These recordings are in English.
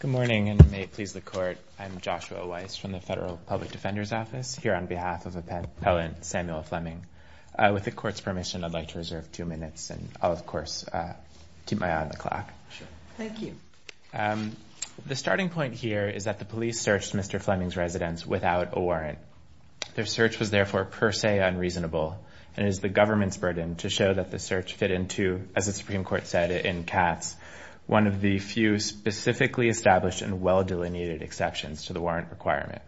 Good morning, and may it please the Court, I'm Joshua Weiss from the Federal Public Defender's Office here on behalf of Appellant Samuel Fleming. With the Court's permission, I'd like to reserve two minutes, and I'll, of course, keep my eye on the clock. Sure. Thank you. The starting point here is that the police searched Mr. Fleming's residence without a warrant. Their search was therefore per se unreasonable, and it is the government's burden to show that the search fit into, as the Supreme Court said in Katz, one of the few specifically established and well-delineated exceptions to the warrant requirement.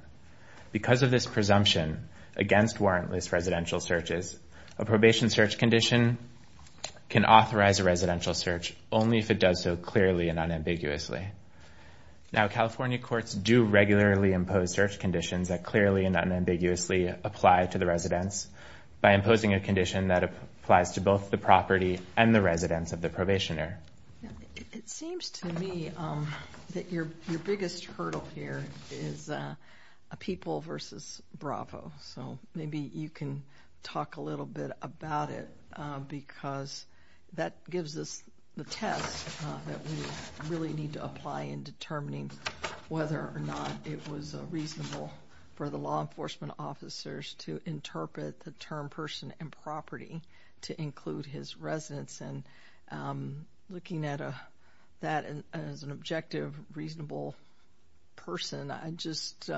Because of this presumption against warrantless residential searches, a probation search condition can authorize a residential search only if it does so clearly and unambiguously. Now California courts do regularly impose search conditions that clearly and unambiguously apply to the residence by imposing a condition that applies to both the property and the residence of the probationer. It seems to me that your biggest hurdle here is a people versus Bravo, so maybe you can talk a little bit about it because that gives us the test that we really need to apply in interpret the term person and property to include his residence, and looking at that as an objective, reasonable person, I just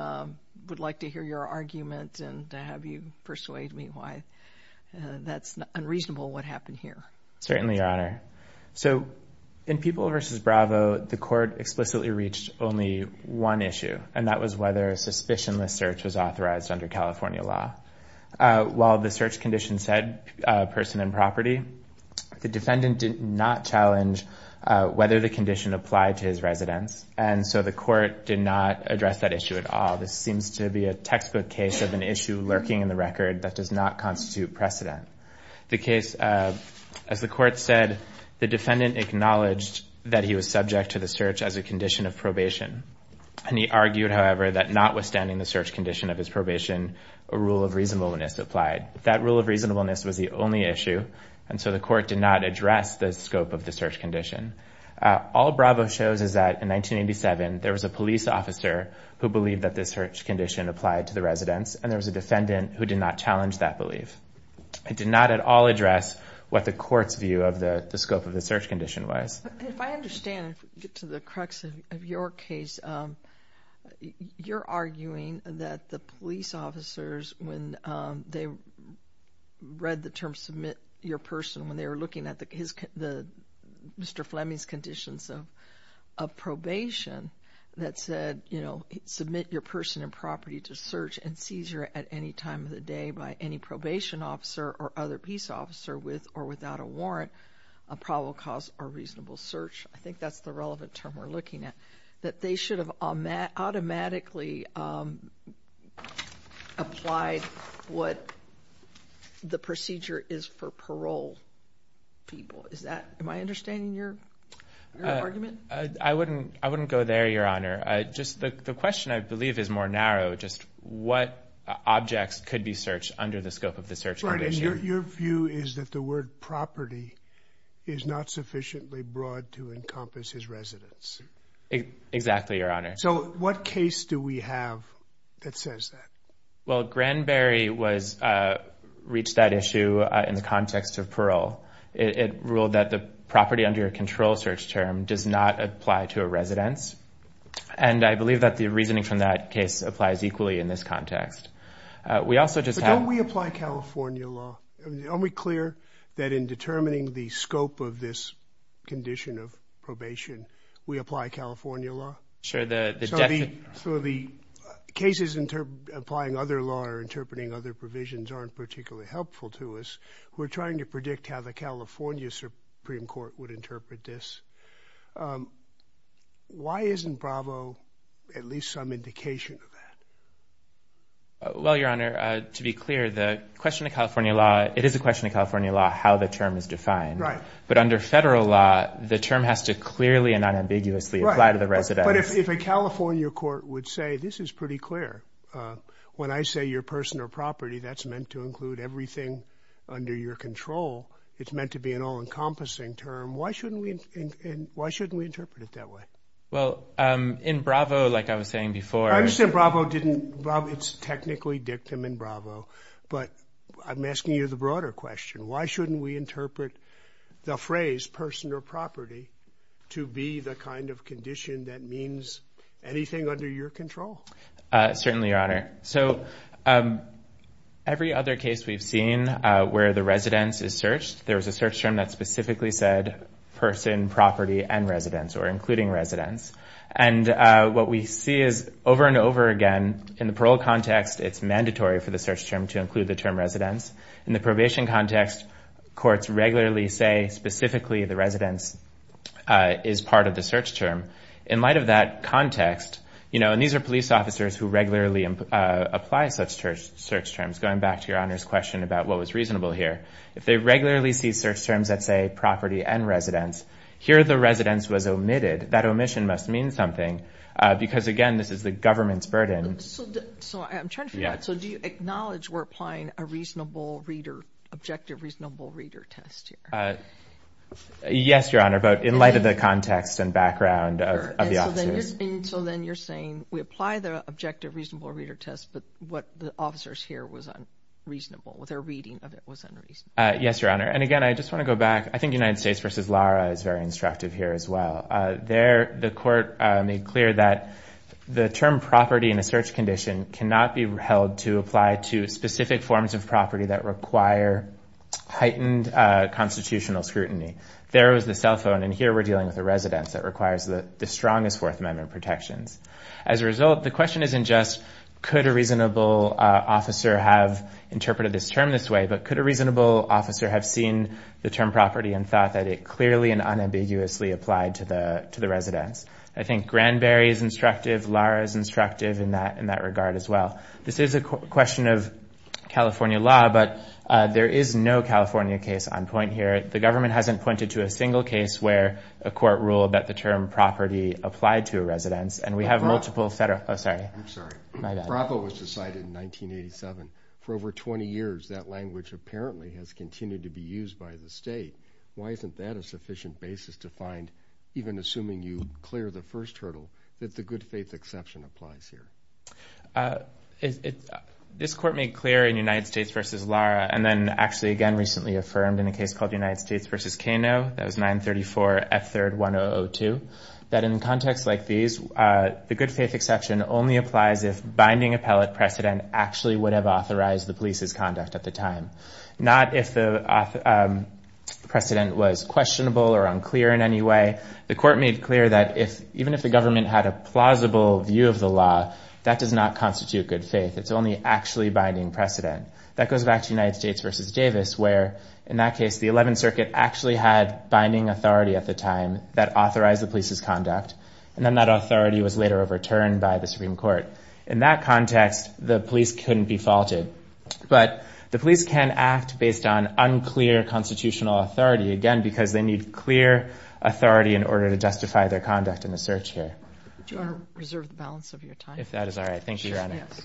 would like to hear your argument and to have you persuade me why that's unreasonable what happened here. Certainly, Your Honor. So in people versus Bravo, the court explicitly reached only one issue, and that was whether a suspicionless search was authorized under California law. While the search condition said person and property, the defendant did not challenge whether the condition applied to his residence, and so the court did not address that issue at all. This seems to be a textbook case of an issue lurking in the record that does not constitute precedent. The case, as the court said, the defendant acknowledged that he was subject to the search as a condition of probation, and he argued, however, that notwithstanding the search condition of his probation, a rule of reasonableness applied. That rule of reasonableness was the only issue, and so the court did not address the scope of the search condition. All Bravo shows is that in 1987, there was a police officer who believed that the search condition applied to the residence, and there was a defendant who did not challenge that belief. It did not at all address what the court's view of the scope of the search condition was. If I understand to the crux of your case, you're arguing that the police officers, when they read the term submit your person, when they were looking at Mr. Fleming's conditions of probation, that said, you know, submit your person and property to search and seizure at any time of the day by any probation officer or other peace officer with or without a warrant, a probable cause or reasonable search, I think that's the relevant term we're looking at, that they should have automatically applied what the procedure is for parole people. Is that, am I understanding your argument? I wouldn't go there, Your Honor. Just the question, I believe, is more narrow, just what objects could be searched under the scope of the search condition. Your view is that the word property is not sufficiently broad to encompass his residence. Exactly, Your Honor. So what case do we have that says that? Well, Granberry reached that issue in the context of parole. It ruled that the property under your control search term does not apply to a residence, and I believe that the reasoning from that case applies equally in this context. We also just have- California law. Are we clear that in determining the scope of this condition of probation, we apply California law? Sure, the- So the cases applying other law or interpreting other provisions aren't particularly helpful to us. We're trying to predict how the California Supreme Court would interpret this. Why isn't Bravo at least some indication of that? Well, Your Honor, to be clear, the question of California law, it is a question of California law how the term is defined. But under federal law, the term has to clearly and unambiguously apply to the residence. But if a California court would say, this is pretty clear, when I say you're a person or property, that's meant to include everything under your control. It's meant to be an all-encompassing term. Why shouldn't we interpret it that way? Well, in Bravo, like I was saying before- I understand Bravo didn't- it's technically dictum in Bravo. But I'm asking you the broader question. Why shouldn't we interpret the phrase person or property to be the kind of condition that means anything under your control? Certainly, Your Honor. So every other case we've seen where the residence is searched, there was a search term that specifically said person, property, and residence, or including residence. And what we see is, over and over again, in the parole context, it's mandatory for the search term to include the term residence. In the probation context, courts regularly say specifically the residence is part of the search term. In light of that context, you know, and these are police officers who regularly apply such search terms, going back to Your Honor's question about what was reasonable here, if they regularly see search terms that say property and residence, here the residence was omitted. That omission must mean something because, again, this is the government's burden. So, I'm trying to figure out, so do you acknowledge we're applying a reasonable reader, objective reasonable reader test here? Yes, Your Honor, but in light of the context and background of the officers. So then you're saying we apply the objective reasonable reader test, but what the officers hear was unreasonable, what their reading of it was unreasonable. Yes, Your Honor. And again, I just want to go back. I think United States v. Lara is very instructive here as well. The court made clear that the term property in a search condition cannot be held to apply to specific forms of property that require heightened constitutional scrutiny. There was the cell phone, and here we're dealing with a residence that requires the strongest Fourth Amendment protections. As a result, the question isn't just could a reasonable officer have interpreted this term this way, but could a reasonable officer have seen the term property and thought that it clearly and unambiguously applied to the residence? I think Granberry is instructive, Lara is instructive in that regard as well. This is a question of California law, but there is no California case on point here. The government hasn't pointed to a single case where a court ruled that the term property applied to a residence, and we have multiple federal, oh sorry, my bad. If BRAVO was decided in 1987, for over 20 years that language apparently has continued to be used by the state, why isn't that a sufficient basis to find, even assuming you clear the first hurdle, that the good faith exception applies here? This court made clear in United States v. Lara, and then actually again recently affirmed in a case called United States v. Kano, that was 934 F3rd 1002, that in contexts like these, the good faith exception only applies if binding appellate precedent actually would have authorized the police's conduct at the time. Not if the precedent was questionable or unclear in any way. The court made clear that even if the government had a plausible view of the law, that does not constitute good faith. It's only actually binding precedent. That goes back to United States v. Davis, where in that case the 11th Circuit actually had binding authority at the time that authorized the police's conduct, and then that authority was later overturned by the Supreme Court. In that context, the police couldn't be faulted. But the police can act based on unclear constitutional authority, again because they need clear authority in order to justify their conduct in the search here. Do you want to reserve the balance of your time? If that is all right. Thank you, Your Honor. Yes.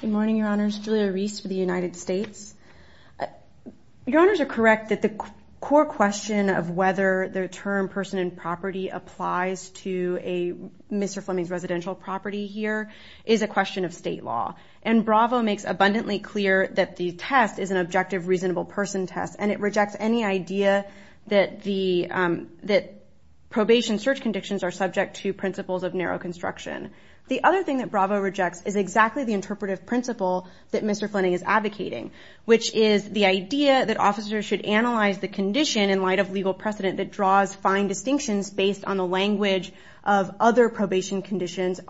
Good morning, Your Honors, Julia Reese for the United States. Your Honors are correct that the core question of whether the term person in property applies to Mr. Fleming's residential property here is a question of state law. And Bravo makes abundantly clear that the test is an objective reasonable person test, and it rejects any idea that probation search conditions are subject to principles of narrow construction. The other thing that Bravo rejects is exactly the interpretive principle that Mr. Fleming is advocating, which is the idea that officers should analyze the condition in light of legal on the language of other probation conditions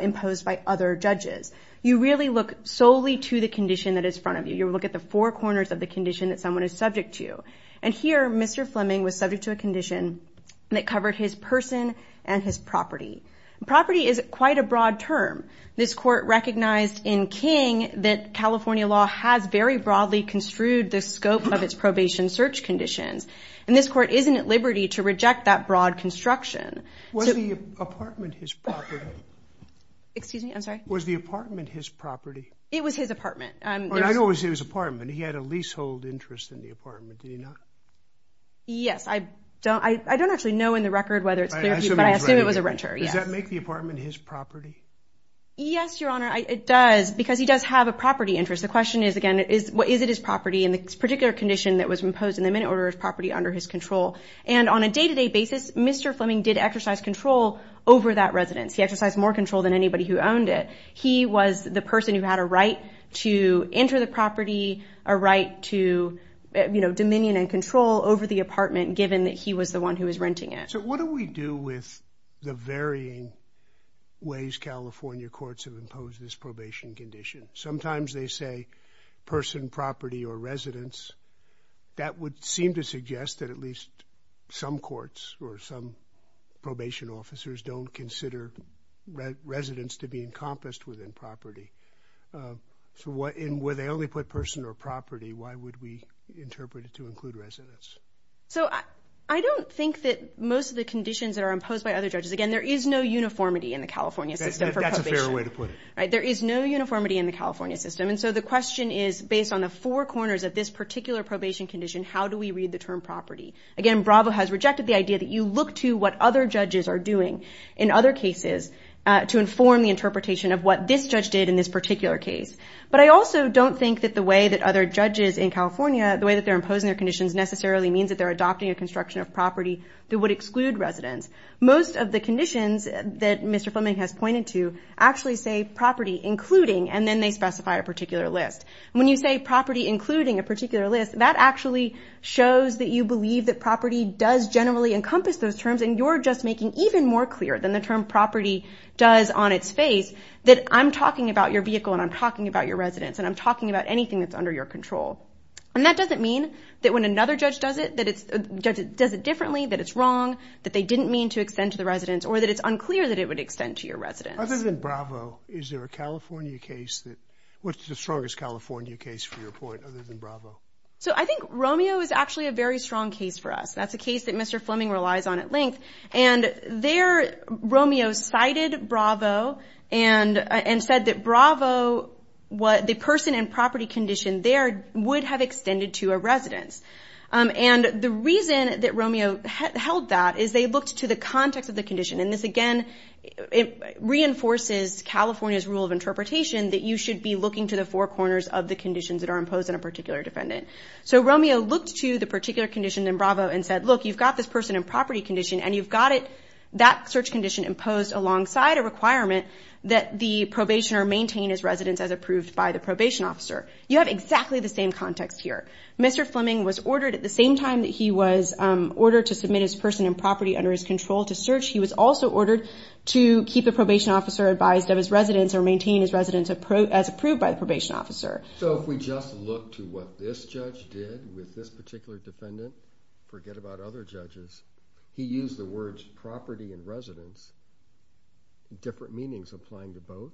imposed by other judges. You really look solely to the condition that is front of you. You look at the four corners of the condition that someone is subject to. And here, Mr. Fleming was subject to a condition that covered his person and his property. Property is quite a broad term. This court recognized in King that California law has very broadly construed the scope of its probation search conditions. And this court isn't at liberty to reject that broad construction. Was the apartment his property? Excuse me? I'm sorry? Was the apartment his property? It was his apartment. I always say it was his apartment. He had a leasehold interest in the apartment, did he not? Yes. I don't actually know in the record whether it's clear to you, but I assume it was a renter. Does that make the apartment his property? Yes, Your Honor, it does, because he does have a property interest. The question is, again, is it his property in this particular condition that was imposed in the minute or is property under his control? And on a day-to-day basis, Mr. Fleming did exercise control over that residence. He exercised more control than anybody who owned it. He was the person who had a right to enter the property, a right to, you know, dominion and control over the apartment, given that he was the one who was renting it. So what do we do with the varying ways California courts have imposed this probation condition? Sometimes they say person, property, or residence. That would seem to suggest that at least some courts or some probation officers don't consider residence to be encompassed within property. So where they only put person or property, why would we interpret it to include residence? So I don't think that most of the conditions that are imposed by other judges, again, there is no uniformity in the California system for probation. That's a fair way to put it. Right? There is no uniformity in the California system, and so the question is, based on the four corners of this particular probation condition, how do we read the term property? Again, Bravo has rejected the idea that you look to what other judges are doing in other cases to inform the interpretation of what this judge did in this particular case. But I also don't think that the way that other judges in California, the way that they're imposing their conditions necessarily means that they're adopting a construction of property that would exclude residence. Most of the conditions that Mr. Fleming has pointed to actually say property including, and then they specify a particular list. When you say property including a particular list, that actually shows that you believe that property does generally encompass those terms, and you're just making even more clear than the term property does on its face that I'm talking about your vehicle, and I'm talking about your residence, and I'm talking about anything that's under your control. And that doesn't mean that when another judge does it, that it's, does it differently, that it's wrong, that they didn't mean to extend to the residence, or that it's unclear that it would extend to your residence. Other than Bravo, is there a California case that, what's the strongest California case for your point other than Bravo? So I think Romeo is actually a very strong case for us. That's a case that Mr. Fleming relies on at length. And there, Romeo cited Bravo and said that Bravo, the person and property condition there would have extended to a residence. And the reason that Romeo held that is they looked to the context of the condition, and this again, it reinforces California's rule of interpretation that you should be looking to the four corners of the conditions that are imposed on a particular defendant. So Romeo looked to the particular condition in Bravo and said, look, you've got this person and property condition, and you've got it, that search condition imposed alongside a requirement that the probationer maintain his residence as approved by the probation officer. You have exactly the same context here. Mr. Fleming was ordered at the same time that he was ordered to submit his person and property under his control to search, he was also ordered to keep the probation officer advised of his residence or maintain his residence as approved by the probation officer. So if we just look to what this judge did with this particular defendant, forget about other judges, he used the words property and residence, different meanings applying to both?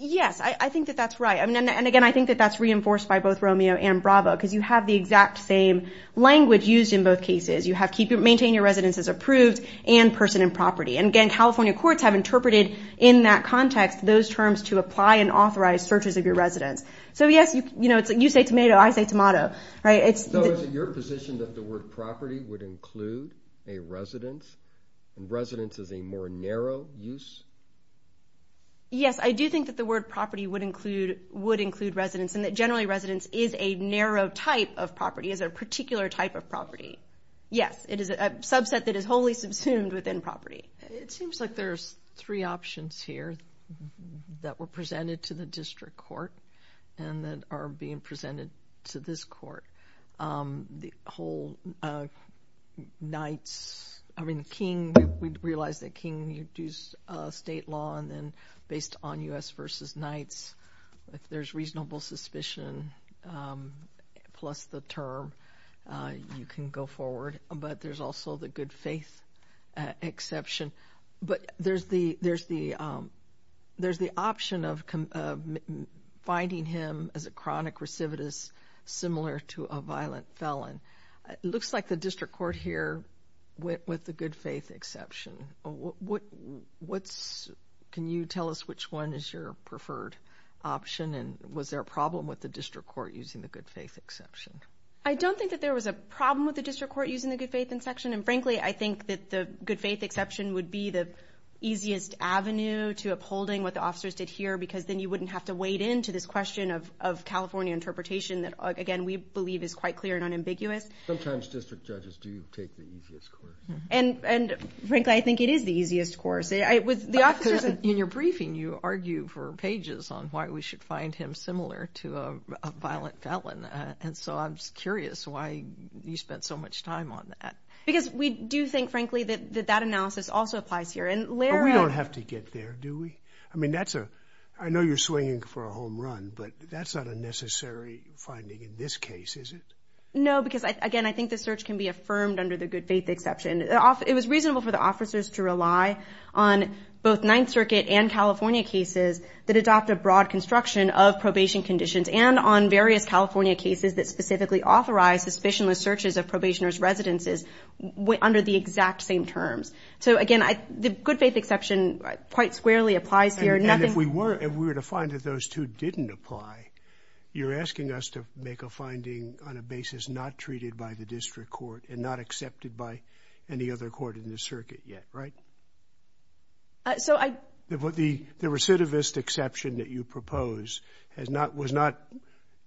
Yes, I think that that's right. And again, I think that that's reinforced by both Romeo and Bravo, because you have the exact same language used in both cases. You have maintain your residence as approved and person and property. And again, California courts have interpreted in that context, those terms to apply and authorize searches of your residence. So yes, you say tomato, I say tomato, right? So is it your position that the word property would include a residence, and residence is a more narrow use? Yes, I do think that the word property would include residence and that generally residence is a narrow type of property, is a particular type of property. Yes, it is a subset that is wholly subsumed within property. It seems like there's three options here that were presented to the district court and that are being presented to this court. The whole knights, I mean, king, we realize that king, you do state law and then based on U.S. versus knights, if there's reasonable suspicion plus the term, you can go forward. But there's also the good faith exception. But there's the option of finding him as a chronic recidivist similar to a violent felon. It looks like the district court here went with the good faith exception. Can you tell us which one is your preferred option and was there a problem with the district court using the good faith exception? I don't think that there was a problem with the district court using the good faith exception. And frankly, I think that the good faith exception would be the easiest avenue to upholding what the officers did here because then you wouldn't have to wade into this question of California interpretation that, again, we believe is quite clear and unambiguous. Sometimes district judges do take the easiest course. And frankly, I think it is the easiest course. In your briefing, you argue for pages on why we should find him similar to a violent felon. And so I'm just curious why you spent so much time on that. Because we do think, frankly, that that analysis also applies here. And we don't have to get there, do we? I mean, that's a I know you're swinging for a home run, but that's not a necessary finding in this case, is it? No, because, again, I think the search can be affirmed under the good faith exception. It was reasonable for the officers to rely on both Ninth Circuit and California cases that adopt a broad construction of probation conditions and on various California cases that specifically authorize suspicionless searches of probationers' residences under the exact same terms. So, again, the good faith exception quite squarely applies here. And if we were to find that those two didn't apply, you're asking us to make a finding on a basis not treated by the district court and not accepted by any other court in the circuit yet, right? So I. The recidivist exception that you propose has not was not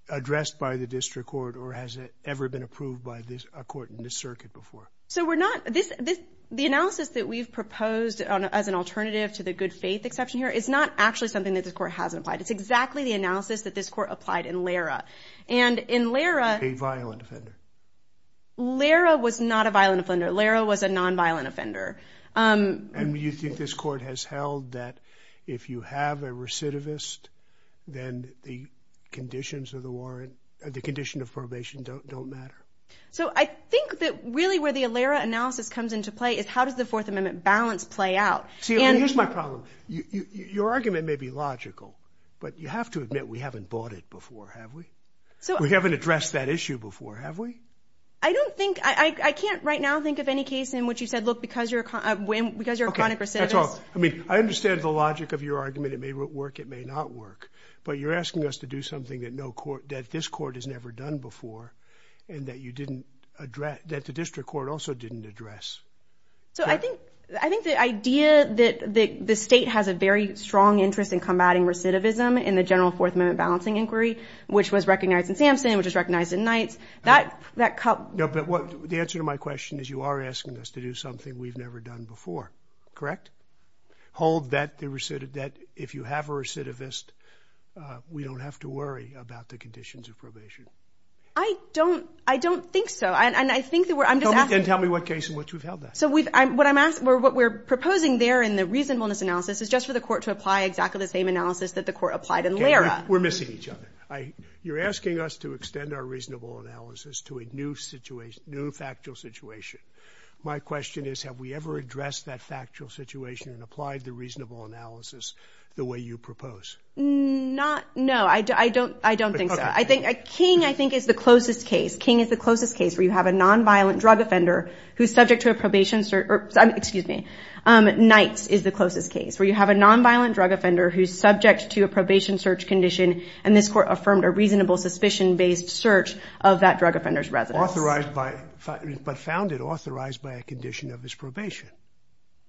addressed by the district court or has ever been approved by this court in this circuit before. So we're not this this the analysis that we've proposed as an alternative to the good faith exception here is not actually something that the court hasn't applied. It's exactly the analysis that this court applied in Lara. And in Lara, a violent offender. Lara was not a violent offender. Lara was a nonviolent offender. And you think this court has held that if you have a recidivist, then the conditions of the warrant, the condition of probation don't don't matter. So I think that really where the Alera analysis comes into play is how does the Fourth Amendment balance play out? Here's my problem. Your argument may be logical, but you have to admit we haven't bought it before, have we? So we haven't addressed that issue before, have we? I don't think I can't right now think of any case in which you said, look, because you're because you're a recidivist, I mean, I understand the logic of your argument. It may work. It may not work. But you're asking us to do something that no court that this court has never done before and that you didn't address that the district court also didn't address. So I think I think the idea that the state has a very strong interest in combating recidivism in the general Fourth Amendment balancing inquiry, which was recognized in Samson, which is recognized in Knight's. That that cut the answer to my question is you are asking us to do something we've never done before, correct? Hold that the recidivist that if you have a recidivist, we don't have to worry about the conditions of probation. I don't I don't think so. And I think that we're I'm just asking. Tell me what case in which we've held that. So what I'm asking or what we're proposing there in the reasonableness analysis is just for the court to apply exactly the same analysis that the court applied and we're missing each other. You're asking us to extend our reasonable analysis to a new situation, new factual situation. My question is, have we ever addressed that factual situation and applied the reasonable analysis the way you propose? Not no, I don't I don't think so. I think King, I think, is the closest case. King is the closest case where you have a nonviolent drug offender who's subject to a probation. Excuse me. Knight's is the closest case where you have a nonviolent drug offender who's subject to a probation search condition. And this court affirmed a reasonable suspicion based search of that drug offender's residence. Authorized by but found it authorized by a condition of his probation.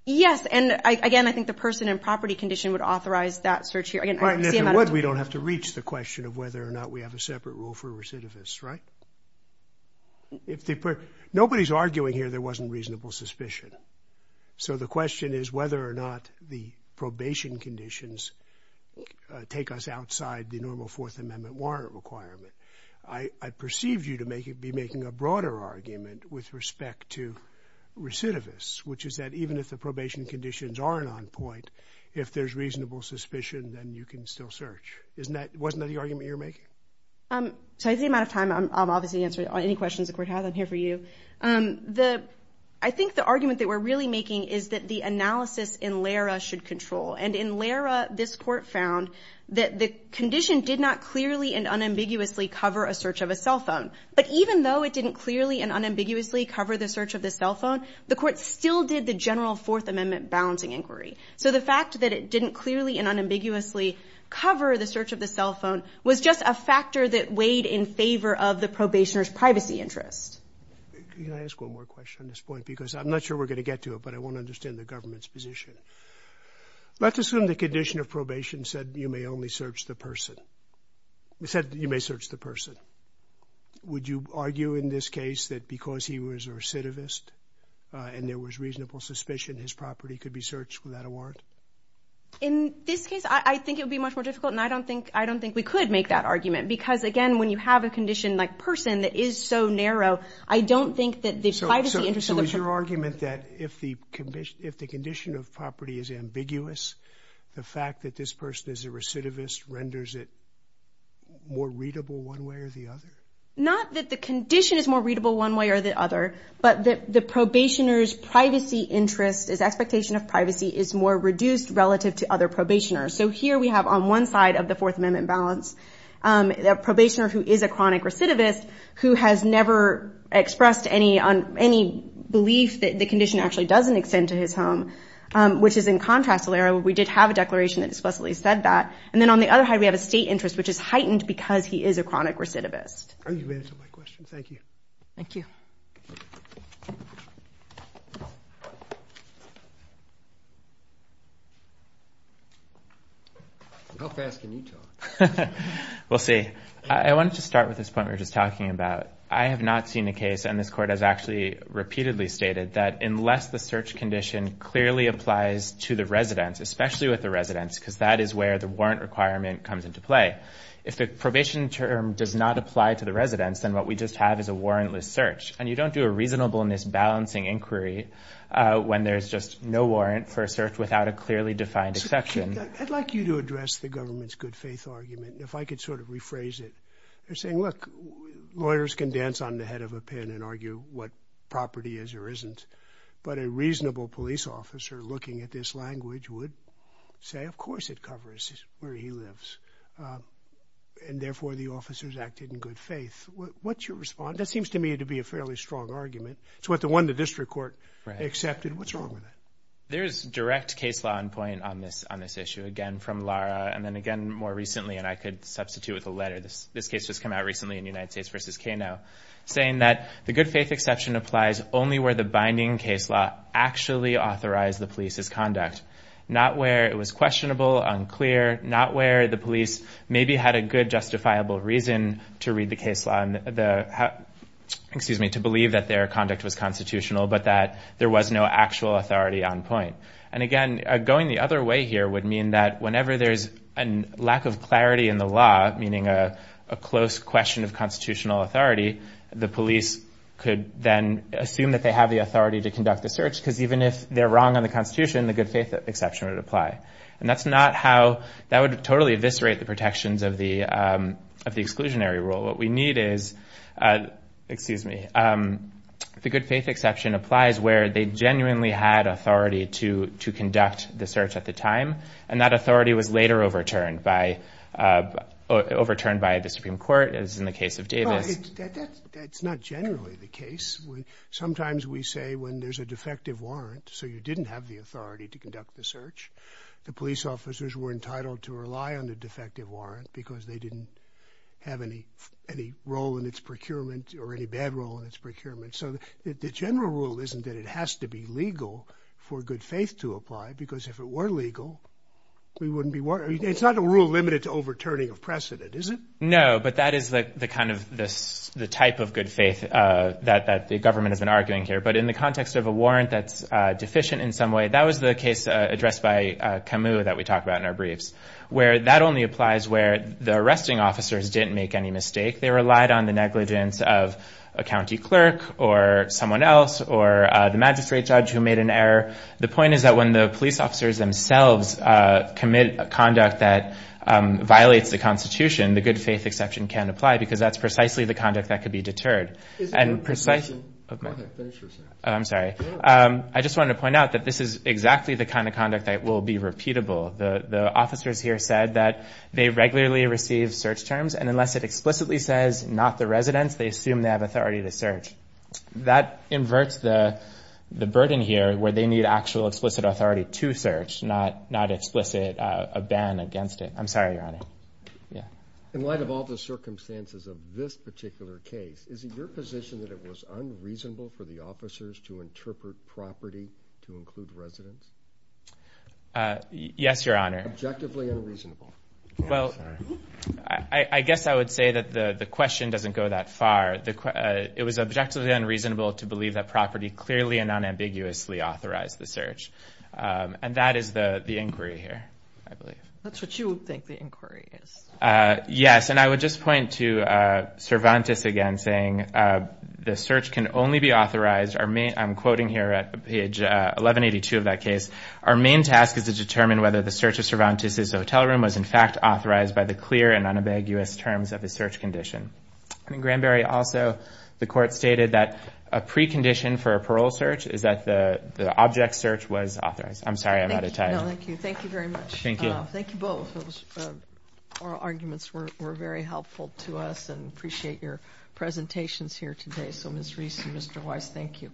Yes. And again, I think the person and property condition would authorize that search here. Again, if you would, we don't have to reach the question of whether or not we have a separate rule for recidivists. Right. If they put nobody's arguing here, there wasn't reasonable suspicion. So the question is whether or not the probation conditions take us outside the normal Fourth Amendment warrant requirement. I perceive you to make it be making a broader argument with respect to recidivists, which is that even if the probation conditions aren't on point, if there's reasonable suspicion, then you can still search. Isn't that wasn't that the argument you're making? So I think the amount of time I'm obviously answering any questions the court has, I'm here for you. The I think the argument that we're really making is that the analysis in Lara should control. And in Lara, this court found that the condition did not clearly and unambiguously cover a search of a cell phone. But even though it didn't clearly and unambiguously cover the search of the cell phone, the court still did the general Fourth Amendment balancing inquiry. So the fact that it didn't clearly and unambiguously cover the search of the cell phone was just a factor that weighed in favor of the probationer's privacy interest. Can I ask one more question on this point, because I'm not sure we're going to get to it, but I want to understand the government's position. Let's assume the condition of probation said you may only search the person. We said you may search the person. Would you argue in this case that because he was a recidivist and there was reasonable suspicion, his property could be searched without a warrant? In this case, I think it would be much more difficult. And I don't think I don't think we could make that argument, because, again, when you have a condition like this for a person that is so narrow, I don't think that the privacy interest of the person... So is your argument that if the condition of property is ambiguous, the fact that this person is a recidivist renders it more readable one way or the other? Not that the condition is more readable one way or the other, but that the probationer's privacy interest, his expectation of privacy, is more reduced relative to other probationers. So here we have, on one side of the Fourth Amendment balance, a probationer who is a chronic recidivist who has never expressed any belief that the condition actually doesn't extend to his home, which is in contrast to where we did have a declaration that explicitly said that. And then on the other hand, we have a state interest which is heightened because he is a chronic recidivist. You've answered my question. Thank you. Thank you. How fast can you talk? We'll see. I wanted to start with this point we were just talking about. I have not seen a case, and this Court has actually repeatedly stated, that unless the search condition clearly applies to the residence, especially with the residence, because that is where the warrant requirement comes into play, if the probation term does not apply to the residence, then what we just have is a warrantless search. And you don't do a reasonableness balancing inquiry when there's just no warrant for a search without a clearly defined exception. I'd like you to address the government's good faith argument. If I could sort of rephrase it, they're saying, look, lawyers can dance on the head of a pin and argue what property is or isn't. But a reasonable police officer looking at this language would say, of course it covers where he lives, and therefore the officers acted in good faith. What's your response? That seems to me to be a fairly strong argument. It's what the one the district court accepted. What's wrong with that? There's direct case law on point on this issue, again from Lara, and then again more recently, and I could substitute with a letter. This case just came out recently in United States v. Kano, saying that the good faith exception applies only where the binding case law actually authorized the police's conduct, not where it was questionable, unclear, not where the police maybe had a good justifiable reason to read the on point. And again, going the other way here would mean that whenever there's a lack of clarity in the law, meaning a close question of constitutional authority, the police could then assume that they have the authority to conduct the search because even if they're wrong on the Constitution, the good faith exception would apply. And that would totally eviscerate the protections of the exclusionary rule. What we need is, excuse me, the good faith exception applies where they genuinely had authority to conduct the search at the time, and that authority was later overturned by overturned by the Supreme Court, as in the case of Davis. That's not generally the case. Sometimes we say when there's a defective warrant, so you didn't have the authority to conduct the search, the police officers were entitled to rely on the defective warrant because they didn't have any any role in its procurement or any bad role in its procurement. So the general rule isn't that it has to be legal for good faith to apply, because if it were legal, we wouldn't be. It's not a rule limited to overturning of precedent, is it? No, but that is the kind of the type of good faith that the government has been arguing here. But in the context of a warrant that's deficient in some way, that was the case addressed by Camus that we talked about in our briefs, where that only applies where the arresting officers didn't make any mistake. They relied on the negligence of a county clerk or someone else or the magistrate judge who made an error. The point is that when the police officers themselves commit conduct that violates the Constitution, the good faith exception can apply because that's precisely the conduct that could be deterred. Is there a condition? I'm sorry, I just wanted to point out that this is exactly the kind of conduct that will be repeatable. The officers here said that they regularly receive search terms and unless it explicitly says not the residents, they assume they have authority to search. That inverts the the burden here where they need actual explicit authority to search, not not explicit, a ban against it. I'm sorry, Your Honor. Yeah. In light of all the circumstances of this particular case, is it your position that it was unreasonable for the officers to interpret property to include residents? Yes, Your Honor. Objectively unreasonable. Well, I guess I would say that the question doesn't go that far. It was objectively unreasonable to believe that property clearly and unambiguously authorized the search. And that is the inquiry here, I believe. That's what you would think the inquiry is. Yes. And I would just point to Cervantes again, saying the search can only be authorized. I'm quoting here at page 1182 of that case. Our main task is to determine whether the search of Cervantes' hotel room was, in fact, authorized by the clear and unambiguous terms of the search condition. And in Granberry also, the court stated that a precondition for a parole search is that the object search was authorized. I'm sorry, I'm out of time. No, thank you. Thank you very much. Thank you both. Those oral arguments were very helpful to us and appreciate your presentations here today. So Ms. Reese and Mr. Weiss, thank you.